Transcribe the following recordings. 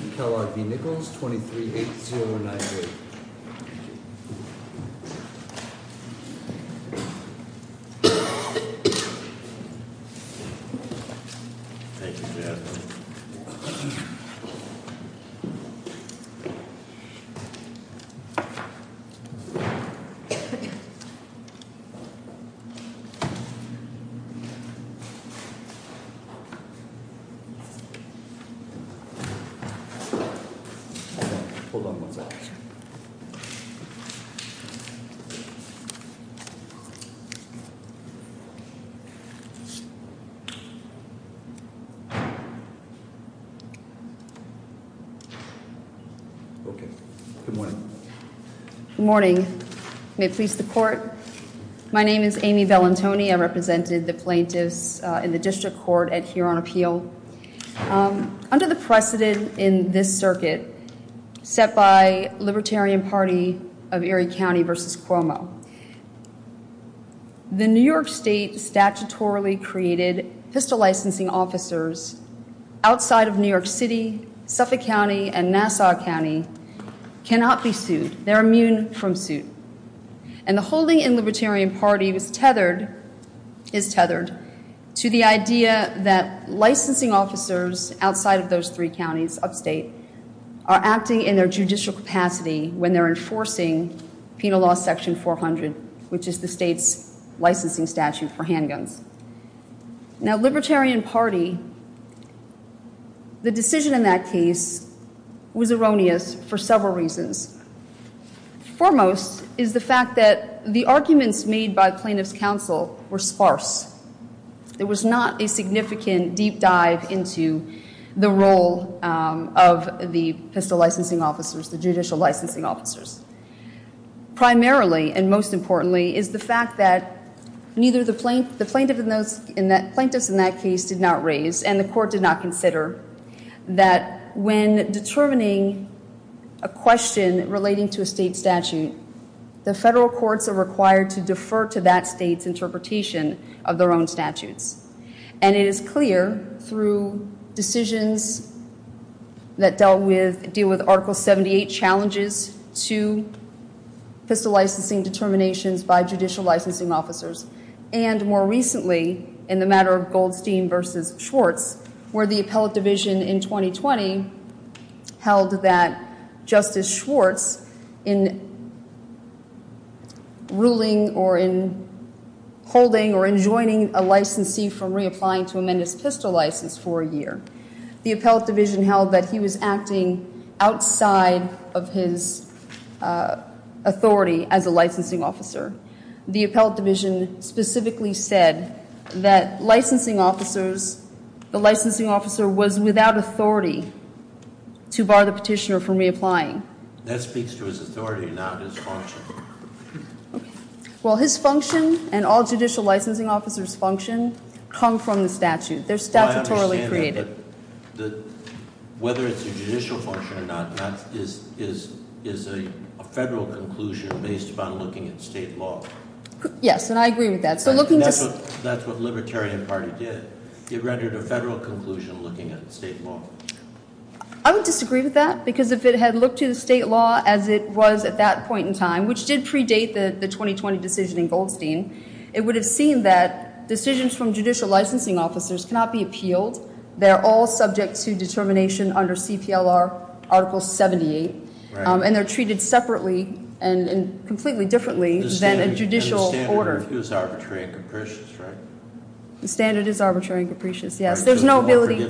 238098 Thank you for having me. Hold on. Okay. Good morning. Morning. May it please the court. My name is Amy Bell Antonio represented the plaintiffs in the district court at here on appeal. Under the precedent in this circuit set by Libertarian Party of Erie County versus Cuomo. The New York State statutorily created pistol licensing officers outside of New York City, Suffolk County and Nassau County cannot be sued. They're immune from suit and the holding in Libertarian Party was tethered is tethered to the idea that licensing officers outside of those three counties upstate are acting in their judicial capacity when they're enforcing penal law section 400, which is the state's licensing statute for handguns. Now, Libertarian Party the decision in that case was erroneous for several reasons. Foremost is the fact that the arguments made by plaintiffs counsel were sparse. There was not a significant deep dive into the role of the pistol licensing officers, the judicial licensing officers. Primarily and most importantly is the fact that neither the plaintiffs in that case did not raise and the court did not consider that when determining a question relating to a state statute, the federal courts are required to defer to that state's interpretation of their own statutes. And it is clear through decisions that deal with Article 78 challenges to pistol licensing determinations by judicial licensing officers and more recently in the matter of Goldstein versus Schwartz where the appellate division in 2020 held that Justice Schwartz in ruling or in holding or enjoining a licensee from reapplying to amend his pistol license for a year. The appellate division held that he was acting outside of his authority as a licensing officer. The appellate division specifically said that licensing officers, the licensing officer was without authority to bar the petitioner from reapplying. That speaks to his authority not his function. Well his function and all judicial licensing officers function come from the statute. They're statutorily created. Whether it's a judicial function or not is a federal conclusion based upon looking at state law. Yes and I agree with that. That's what the Libertarian Party did. It rendered a federal conclusion looking at state law. I would disagree with that because if it had looked to the state law as it was at that point in time, which did predate the 2020 decision in Goldstein, it would have seen that decisions from judicial licensing officers cannot be appealed. They're all subject to determination under CPLR Article 78. And they're treated separately and completely differently than a judicial order. The standard is arbitrary and capricious, right? The standard is arbitrary and capricious, yes. There's no ability.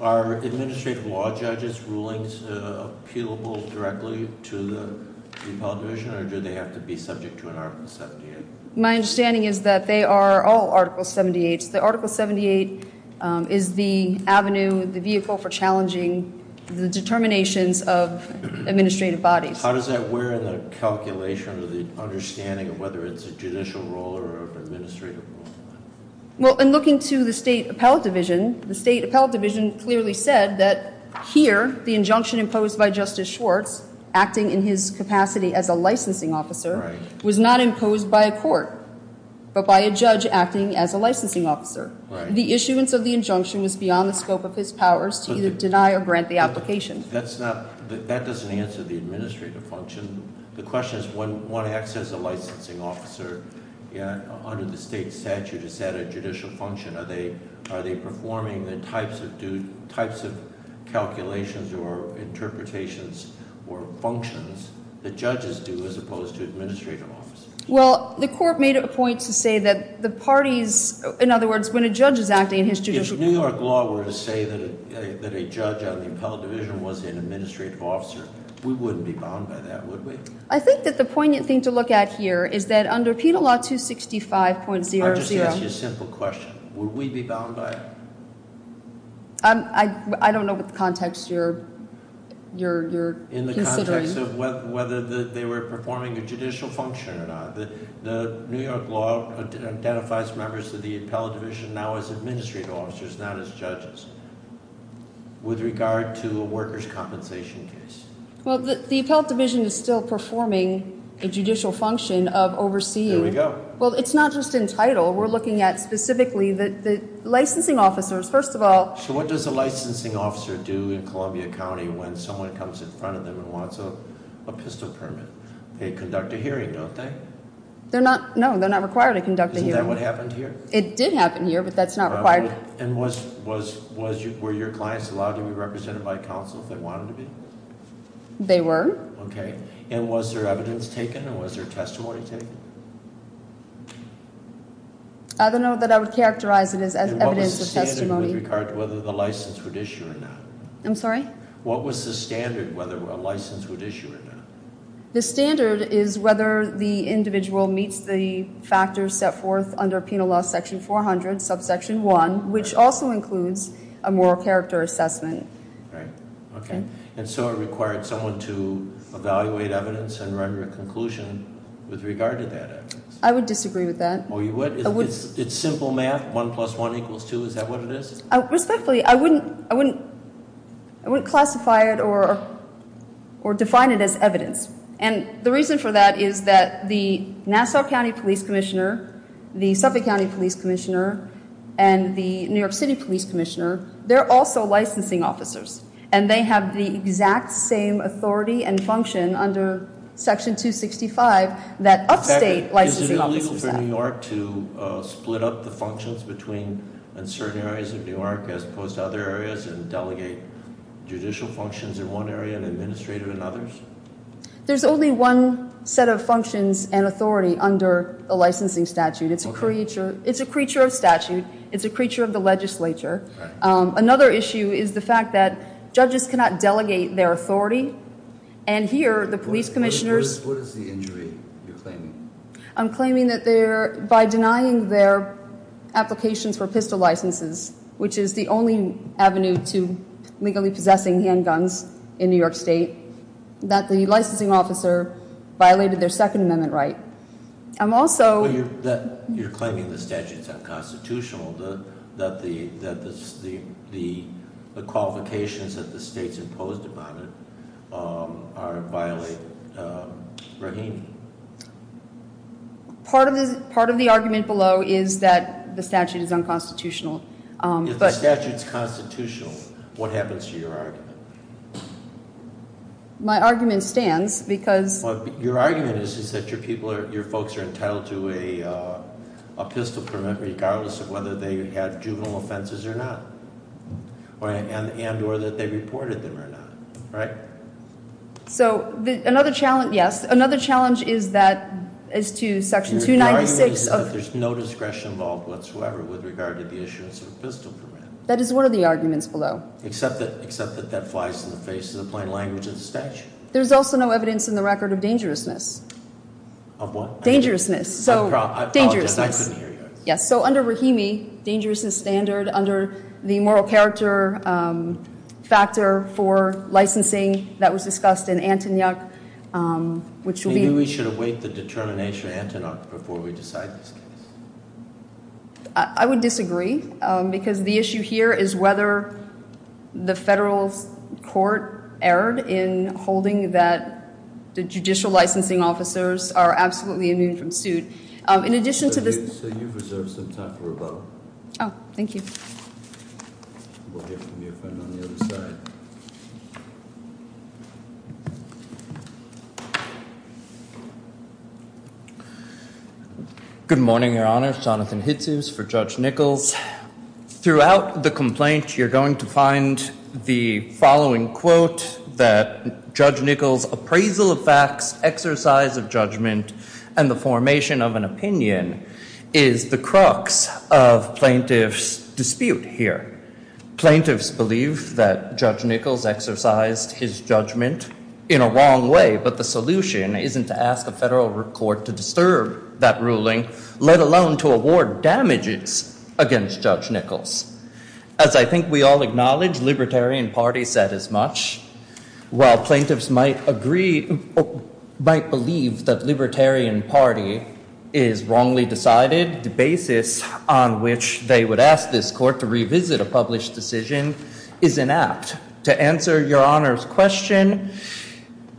Are administrative law judges rulings appealable directly to the Appellate Division or do they have to be subject to an Article 78? My understanding is that they are all Article 78s. The Article 78 is the avenue, the vehicle for challenging the determinations of administrative bodies. How does that wear in the calculation or the understanding of whether it's a judicial role or an administrative role? Well in looking to the State Appellate Division, the State Appellate Division clearly said that here the injunction imposed by Justice Schwartz, acting in his capacity as a licensing officer, was not imposed by a court, but by a judge acting as a licensing officer. The issuance of the injunction was beyond the scope of his powers to either deny or grant the application. That doesn't answer the administrative function. The question is when one acts as a licensing officer under the state statute, is that a judicial function? Are they performing the types of calculations or interpretations or functions that judges do as opposed to administrative officers? Well, the court made a point to say that the parties, in other words, when a judge is acting in his judicial... If New York law were to say that a judge on the Appellate Division was an administrative officer, we wouldn't be bound by that, would we? I think that the poignant thing to look at here is that under Penal Law 265.00... I'll just ask you a simple question. Would we be bound by it? I don't know what the context you're considering. In the context of whether they were performing a judicial function or not. The New York law identifies members of the Appellate Division now as administrative officers, not as judges. With regard to a workers' compensation case. Well, the Appellate Division is still performing a judicial function of overseeing. Well, it's not just in title. We're looking at specifically the licensing officers. First of all... So what does a licensing officer do in Columbia County when someone comes in front of them and wants a pistol permit? They conduct a hearing, don't they? No, they're not required to conduct a hearing. Isn't that what happened here? It did happen here, but that's not required. And were your clients allowed to be represented by counsel if they wanted to be? They were. Okay. And was there evidence taken or was there testimony taken? I don't know that I would characterize it as evidence or testimony. And what was the standard with regard to whether the license would issue or not? I'm sorry? What was the standard with regard to whether a license would issue or not? The standard is whether the individual meets the factors set forth under Penal Law section 400, subsection 1, which also includes a moral character assessment. Right. Okay. And so it required someone to evaluate evidence and render a conclusion with regard to that evidence? I would disagree with that. Oh, you would? It's simple math? 1 plus 1 equals 2? Is that what it is? Respectfully, I wouldn't classify it or define it as evidence. And the reason for that is that the Nassau County Police Commissioner, the Suffolk County Police Commissioner, and the New York City Police Commissioner, they're also licensing officers. And they have the exact same authority and function under section 265 that upstate licensing officers have. Is it illegal for New York to split up the functions between certain areas of New York as opposed to other areas and delegate judicial functions in one area and administrative in others? There's only one set of functions and authority under the licensing statute. It's a creature of statute. It's a creature of the legislature. Another issue is the fact that judges cannot delegate their authority. And here, the police commissioners... What is the injury you're claiming? I'm claiming that by denying their applications for pistol licenses, which is the only avenue to legally possessing handguns in New York State, that the licensing officer violated their Second Amendment right. I'm also... You're claiming the statute's unconstitutional, that the qualifications that the state's imposed upon it violate Rahimi. Part of the argument below is that the statute is unconstitutional. If the statute's constitutional, what happens to your argument? My argument stands, because- Your argument is that your folks are entitled to a pistol permit regardless of whether they had juvenile offenses or not, and or that they reported them or not, right? So, another challenge, yes. Another challenge is that, as to Section 296 of- Your argument is that there's no discretion involved whatsoever with regard to the issuance of a pistol permit. That is one of the arguments below. Except that that flies in the face of the plain language of the statute. There's also no evidence in the record of dangerousness. Of what? Dangerousness. So, dangerousness. I apologize, I couldn't hear you. Yes, so under Rahimi, dangerousness standard under the moral character factor for licensing that was discussed in Antonyuk, which will be- Maybe we should await the determination of Antonyuk before we decide this case. I would disagree, because the issue here is whether the federal court erred in holding that the judicial licensing officers are absolutely immune from suit. In addition to this- So, you've reserved some time for rebuttal. Oh, thank you. We'll hear from your friend on the other side. Good morning, Your Honor. Jonathan Hitzos for Judge Nichols. Throughout the complaint, you're going to find the following quote that Judge Nichols' appraisal of facts, exercise of judgment, and the formation of an opinion is the crux of plaintiff's debate here. Plaintiffs believe that Judge Nichols exercised his judgment in a wrong way, but the solution isn't to ask a federal court to disturb that ruling, let alone to award damages against Judge Nichols. As I think we all acknowledge, Libertarian Party said as much. While plaintiffs might believe that Libertarian Party is wrongly decided, the basis on which they would ask this court to revisit a published decision is inapt. To answer Your Honor's question,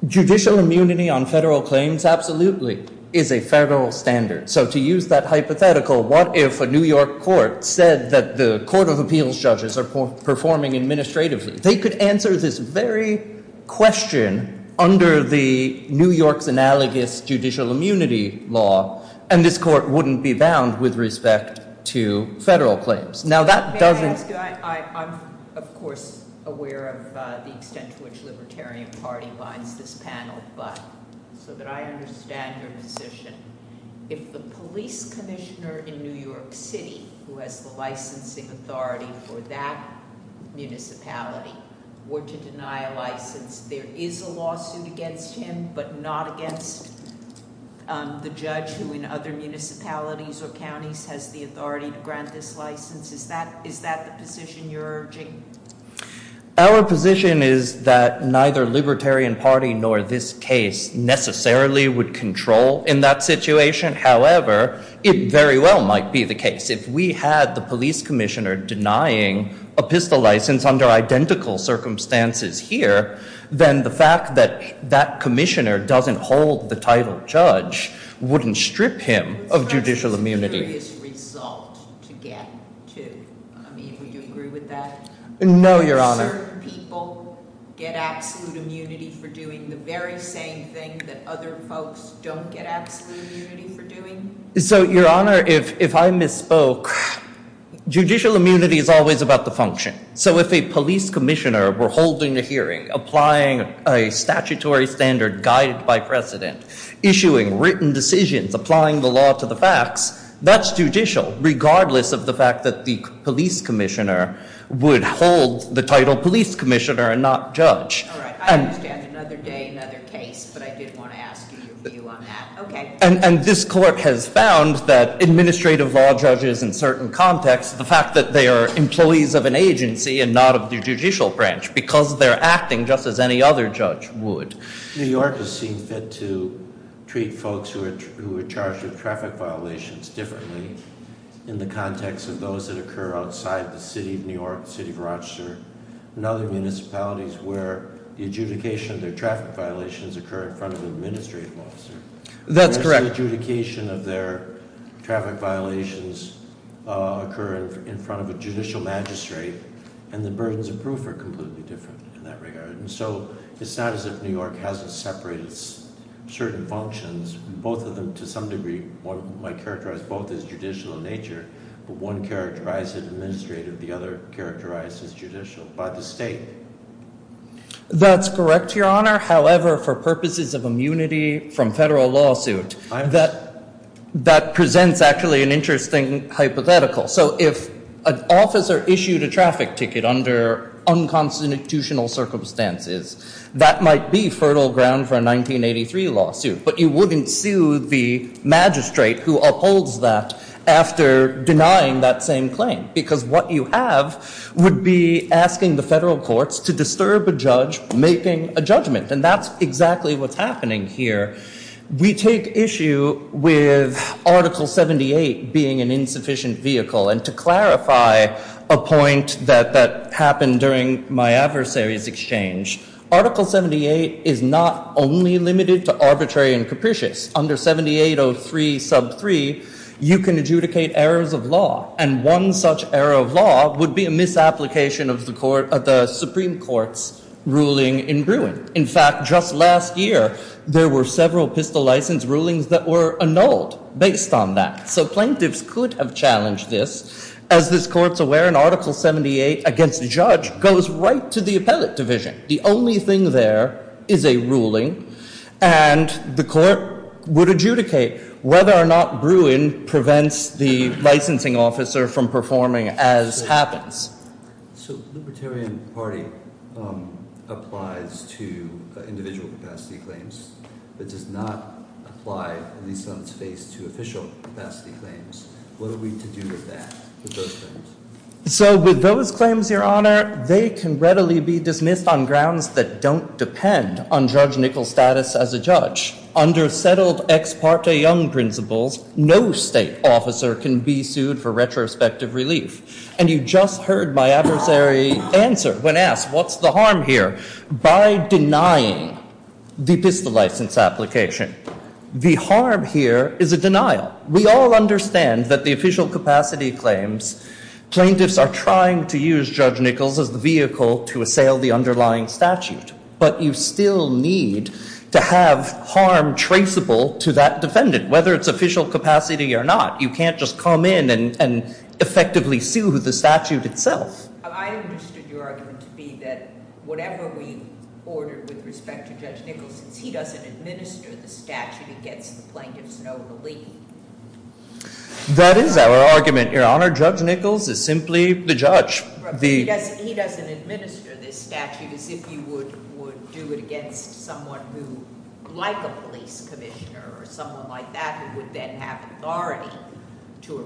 judicial immunity on federal claims absolutely is a federal standard. So to use that hypothetical, what if a New York court said that the Court of Appeals judges are performing administratively? They could answer this very question under the New York's analogous judicial immunity law, and this court wouldn't be bound with respect to federal claims. May I ask you, I'm of course aware of the extent to which Libertarian Party binds this panel, but so that I understand your position, if the police commissioner in New York City who has the licensing authority for that municipality were to deny a license, there is a lawsuit against him, but not against the judge who in other municipalities or counties has the authority to grant this license? Is that the position you're urging? Our position is that neither Libertarian Party nor this case necessarily would control in that situation. However, it very well might be the case. If we had the police commissioner denying a pistol license under identical circumstances here, then the fact that that commissioner doesn't hold the title judge wouldn't strip him of judicial immunity. Would you agree with that? No, Your Honor. Do certain people get absolute immunity for doing the very same thing that other folks don't get absolute immunity for doing? Your Honor, if I misspoke, judicial immunity is always about the function. So if a police commissioner were holding a hearing, applying a statutory standard guided by precedent, issuing written decisions, applying the law to the facts, that's judicial, regardless of the fact that the police commissioner would hold the title police commissioner and not judge. And this court has found that administrative law judges in certain contexts, the fact that they are employees of an agency and not of the judicial branch because they're acting just as any other judge would. New Yorkers seem fit to treat folks who are charged with traffic violations differently in the context of those that occur outside the city of New York, the city of Rochester, and other municipalities where the adjudication of their traffic violations occur in front of an administrative officer. That's correct. The adjudication of their traffic violations occur in front of a judicial magistrate, and the burdens of proof are completely different in that regard. So it's not as if New York hasn't separated certain functions. Both of them, to some degree, one might characterize both as judicial in nature, but one characterized it administrative, the other characterized as judicial by the state. That's correct, Your Honor. However, for purposes of immunity from federal lawsuit, that presents actually an interesting hypothetical. So if an officer issued a traffic ticket under unconstitutional circumstances, that might be fertile ground for a 1983 lawsuit, but you wouldn't sue the magistrate who upholds that after denying that same claim because what you have would be asking the federal courts to disturb a judge making a judgment, and that's exactly what's happening here. We take issue with Article 78 being an insufficient vehicle, and to clarify a point that happened during my adversary's exchange, Article 78 is not only limited to arbitrary and capricious. Under 7803 sub 3, you can adjudicate errors of law, and one such error of law would be a misapplication of the Supreme Court's ruling in Bruin. In fact, just last year, there were several pistol license rulings that were annulled based on that. So plaintiffs could have challenged this. As this Court's aware, an Article 78 against the judge goes right to the appellate division. The only thing there is a ruling, and the Court would adjudicate whether or not Bruin prevents the licensing officer from performing as happens. So Libertarian Party applies to individual capacity claims, but does not apply, at least on its face, to official capacity claims. What are we to do with that, with those claims? So with those claims, Your Honor, they can readily be dismissed on grounds that don't depend on Judge Nickel's status as a judge. Under settled ex parte Young principles, no state officer can be denied the pistol license application. The harm here is a denial. We all understand that the official capacity claims, plaintiffs are trying to use Judge Nickel's as the vehicle to assail the underlying statute. But you still need to have harm traceable to that defendant, whether it's official capacity or not. You can't just come in and effectively sue the statute itself. I understood your argument to be that whatever we ordered with respect to Judge Nickel, since he doesn't administer the statute against the plaintiffs, no relief. That is our argument, Your Honor. Judge Nickel is simply the judge. He doesn't administer this statute as if you would do it against someone who, like a judge, would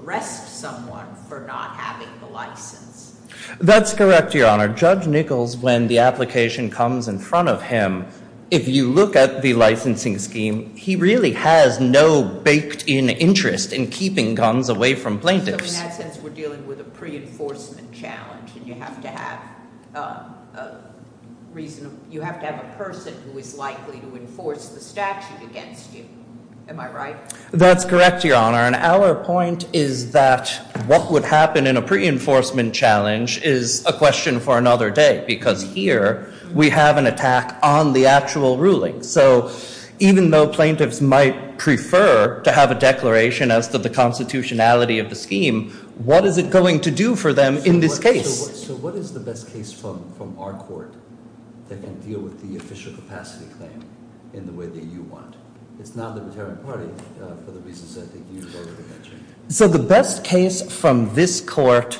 arrest someone for not having the license. That's correct, Your Honor. Judge Nickel's, when the application comes in front of him, if you look at the licensing scheme, he really has no baked in interest in keeping guns away from plaintiffs. So in that sense, we're dealing with a pre-enforcement challenge and you have to have a reason, you have to have a person who is likely to enforce the statute against you. Am I right? That's correct, Your Honor. And our point is that what would happen in a pre-enforcement challenge is a question for another day, because here we have an attack on the actual ruling. So even though plaintiffs might prefer to have a declaration as to the constitutionality of the scheme, what is it going to do for them in this case? So what is the best case from our court that can deal with the official capacity claim in the way that you want? It's not the libertarian party for the reasons I think you voted against. So the best case from this court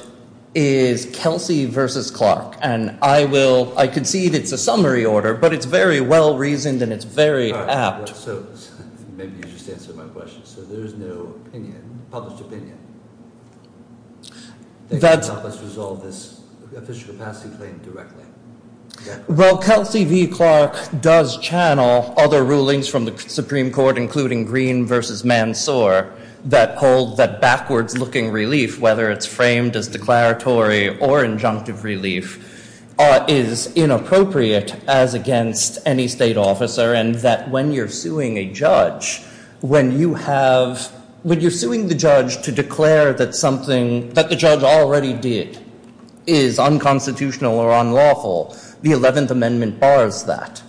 is Kelsey v. Clark. And I will, I concede it's a summary order, but it's very well reasoned and it's very apt. Maybe you just answered my question. So there's no opinion, published opinion, that can help us resolve this official capacity claim directly. Well, Kelsey v. Clark does channel other rulings from the Supreme Court, including Green v. Mansoor, that hold that backwards looking relief, whether it's framed as declaratory or injunctive relief, is inappropriate as against any state officer. And that when you're suing a judge, when you have, when you're suing the judge to declare that something that the judge already did is unconstitutional or unlawful, the 11th Amendment bars that.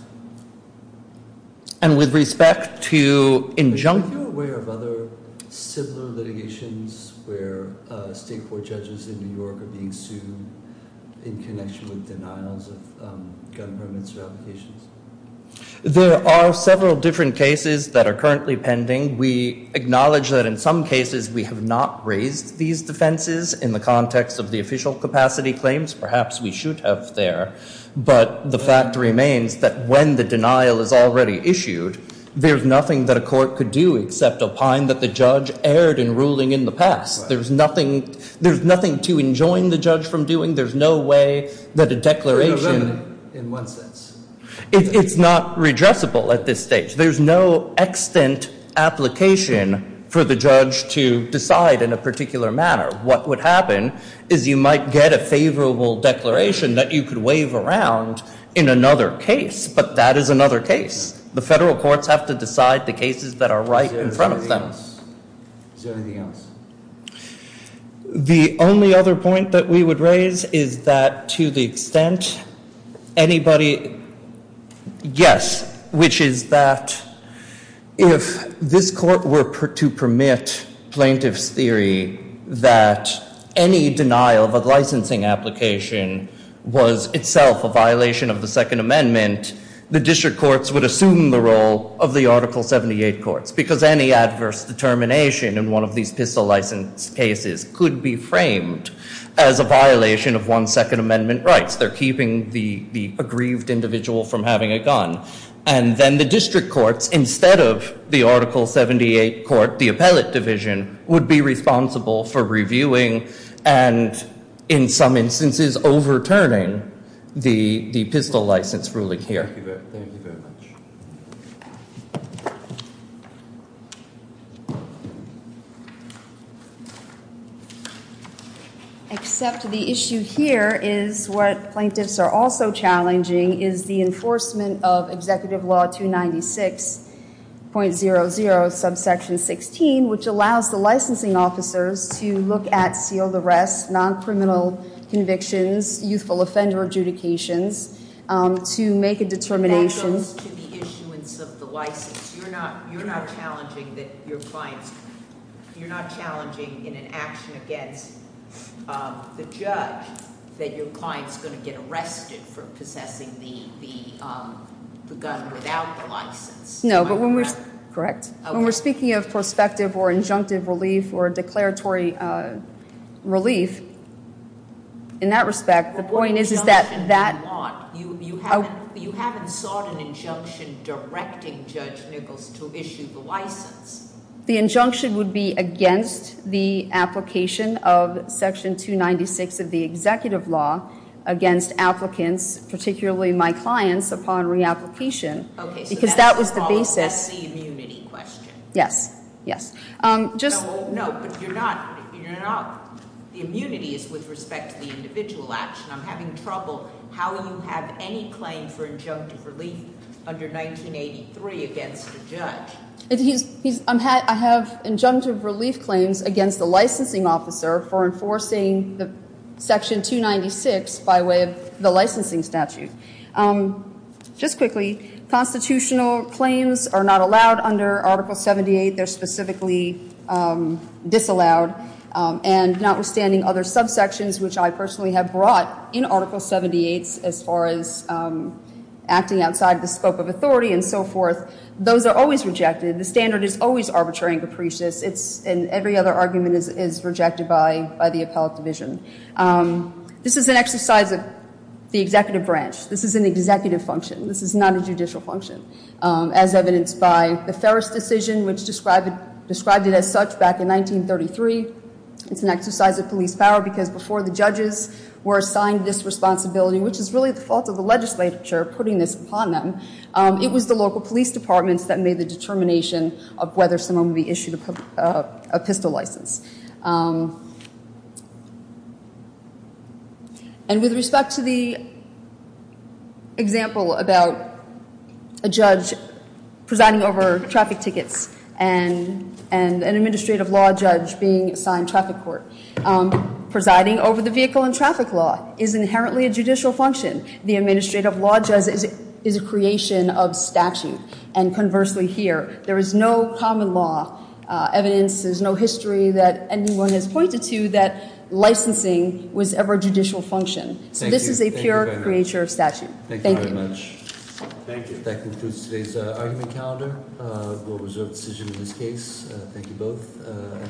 And with respect to injunctive... Are you aware of other similar litigations where state court judges in New York are being sued in connection with denials of gun permits or in the context of the official capacity claims, perhaps we should have there. But the fact remains that when the denial is already issued, there's nothing that a court could do except opine that the judge erred in ruling in the past. There's nothing, there's nothing to enjoin the judge from doing. There's no way that a declaration... In one sense. It's not redressable at this stage. There's no extant application for the judge to decide in a particular manner. What would happen is you might get a favorable declaration that you could wave around in another case. But that is another case. The federal courts have to decide the cases that are right in front of them. Is there anything else? The only other point that we would raise is that to the extent anybody... Yes. Which is that if this court were to permit plaintiff's theory that any denial of a licensing application was itself a violation of the Second Amendment, the district courts would assume the role of the Article 78 courts. Because any adverse determination in one of these pistol license cases could be framed as a violation of one's Second Amendment rights. They're keeping the aggrieved individual from having a gun. And then the district courts, instead of the Article 78 court, the appellate division, would be responsible for reviewing and in some instances overturning the pistol license ruling here. Thank you very much. Except the issue here is what plaintiffs are also challenging is the enforcement of Executive Law 296.00 subsection 16, which allows the licensing officers to look at sealed arrests, non-criminal convictions, youthful offender adjudications to make a determination... That goes to the issuance of the license. You're not challenging that your client's... You're not challenging in an action against the judge that your client's going to get arrested for possessing the gun without the license. No, but when we're... Correct. When we're speaking of prospective or injunctive relief or declaratory relief, in that respect, the point is that... You haven't sought an injunction directing Judge Nichols to issue the license. The injunction would be against the application of Section 296 of the Executive Law against applicants, particularly my clients, upon re-application because that was the basis... That's the immunity question. Yes, yes. The immunity is with respect to the individual action. I'm having trouble how you have any claim for injunctive relief under 1983 against a judge. I have injunctive relief claims against the licensing officer for enforcing Section 296 by way of the licensing statute. Just quickly, constitutional claims are not allowed under Article 78. They're specifically disallowed. And notwithstanding other subsections, which I personally have brought in Article 78 as far as acting outside the scope of authority and so forth, those are always rejected. The standard is always arbitrary and capricious. It's... And every other argument is rejected by the appellate division. This is an exercise of the executive branch. This is an executive function. This is not a judicial function, as evidenced by the Ferris decision, which described it as such back in 1933. It's an exercise of police power because before the judges were assigned this responsibility, which is really the fault of the legislature putting this upon them, it was the local police departments that made the determination of whether someone would be issued a pistol license. And with respect to the example about a judge presiding over traffic tickets and an administrative law judge being assigned traffic court, presiding over the vehicle and traffic law is inherently a judicial function. The administrative law judge is a creation of statute. And conversely here, there is no common law evidence. There's no history that anyone has pointed to that licensing was ever a judicial function. So this is a pure creature of statute. Thank you.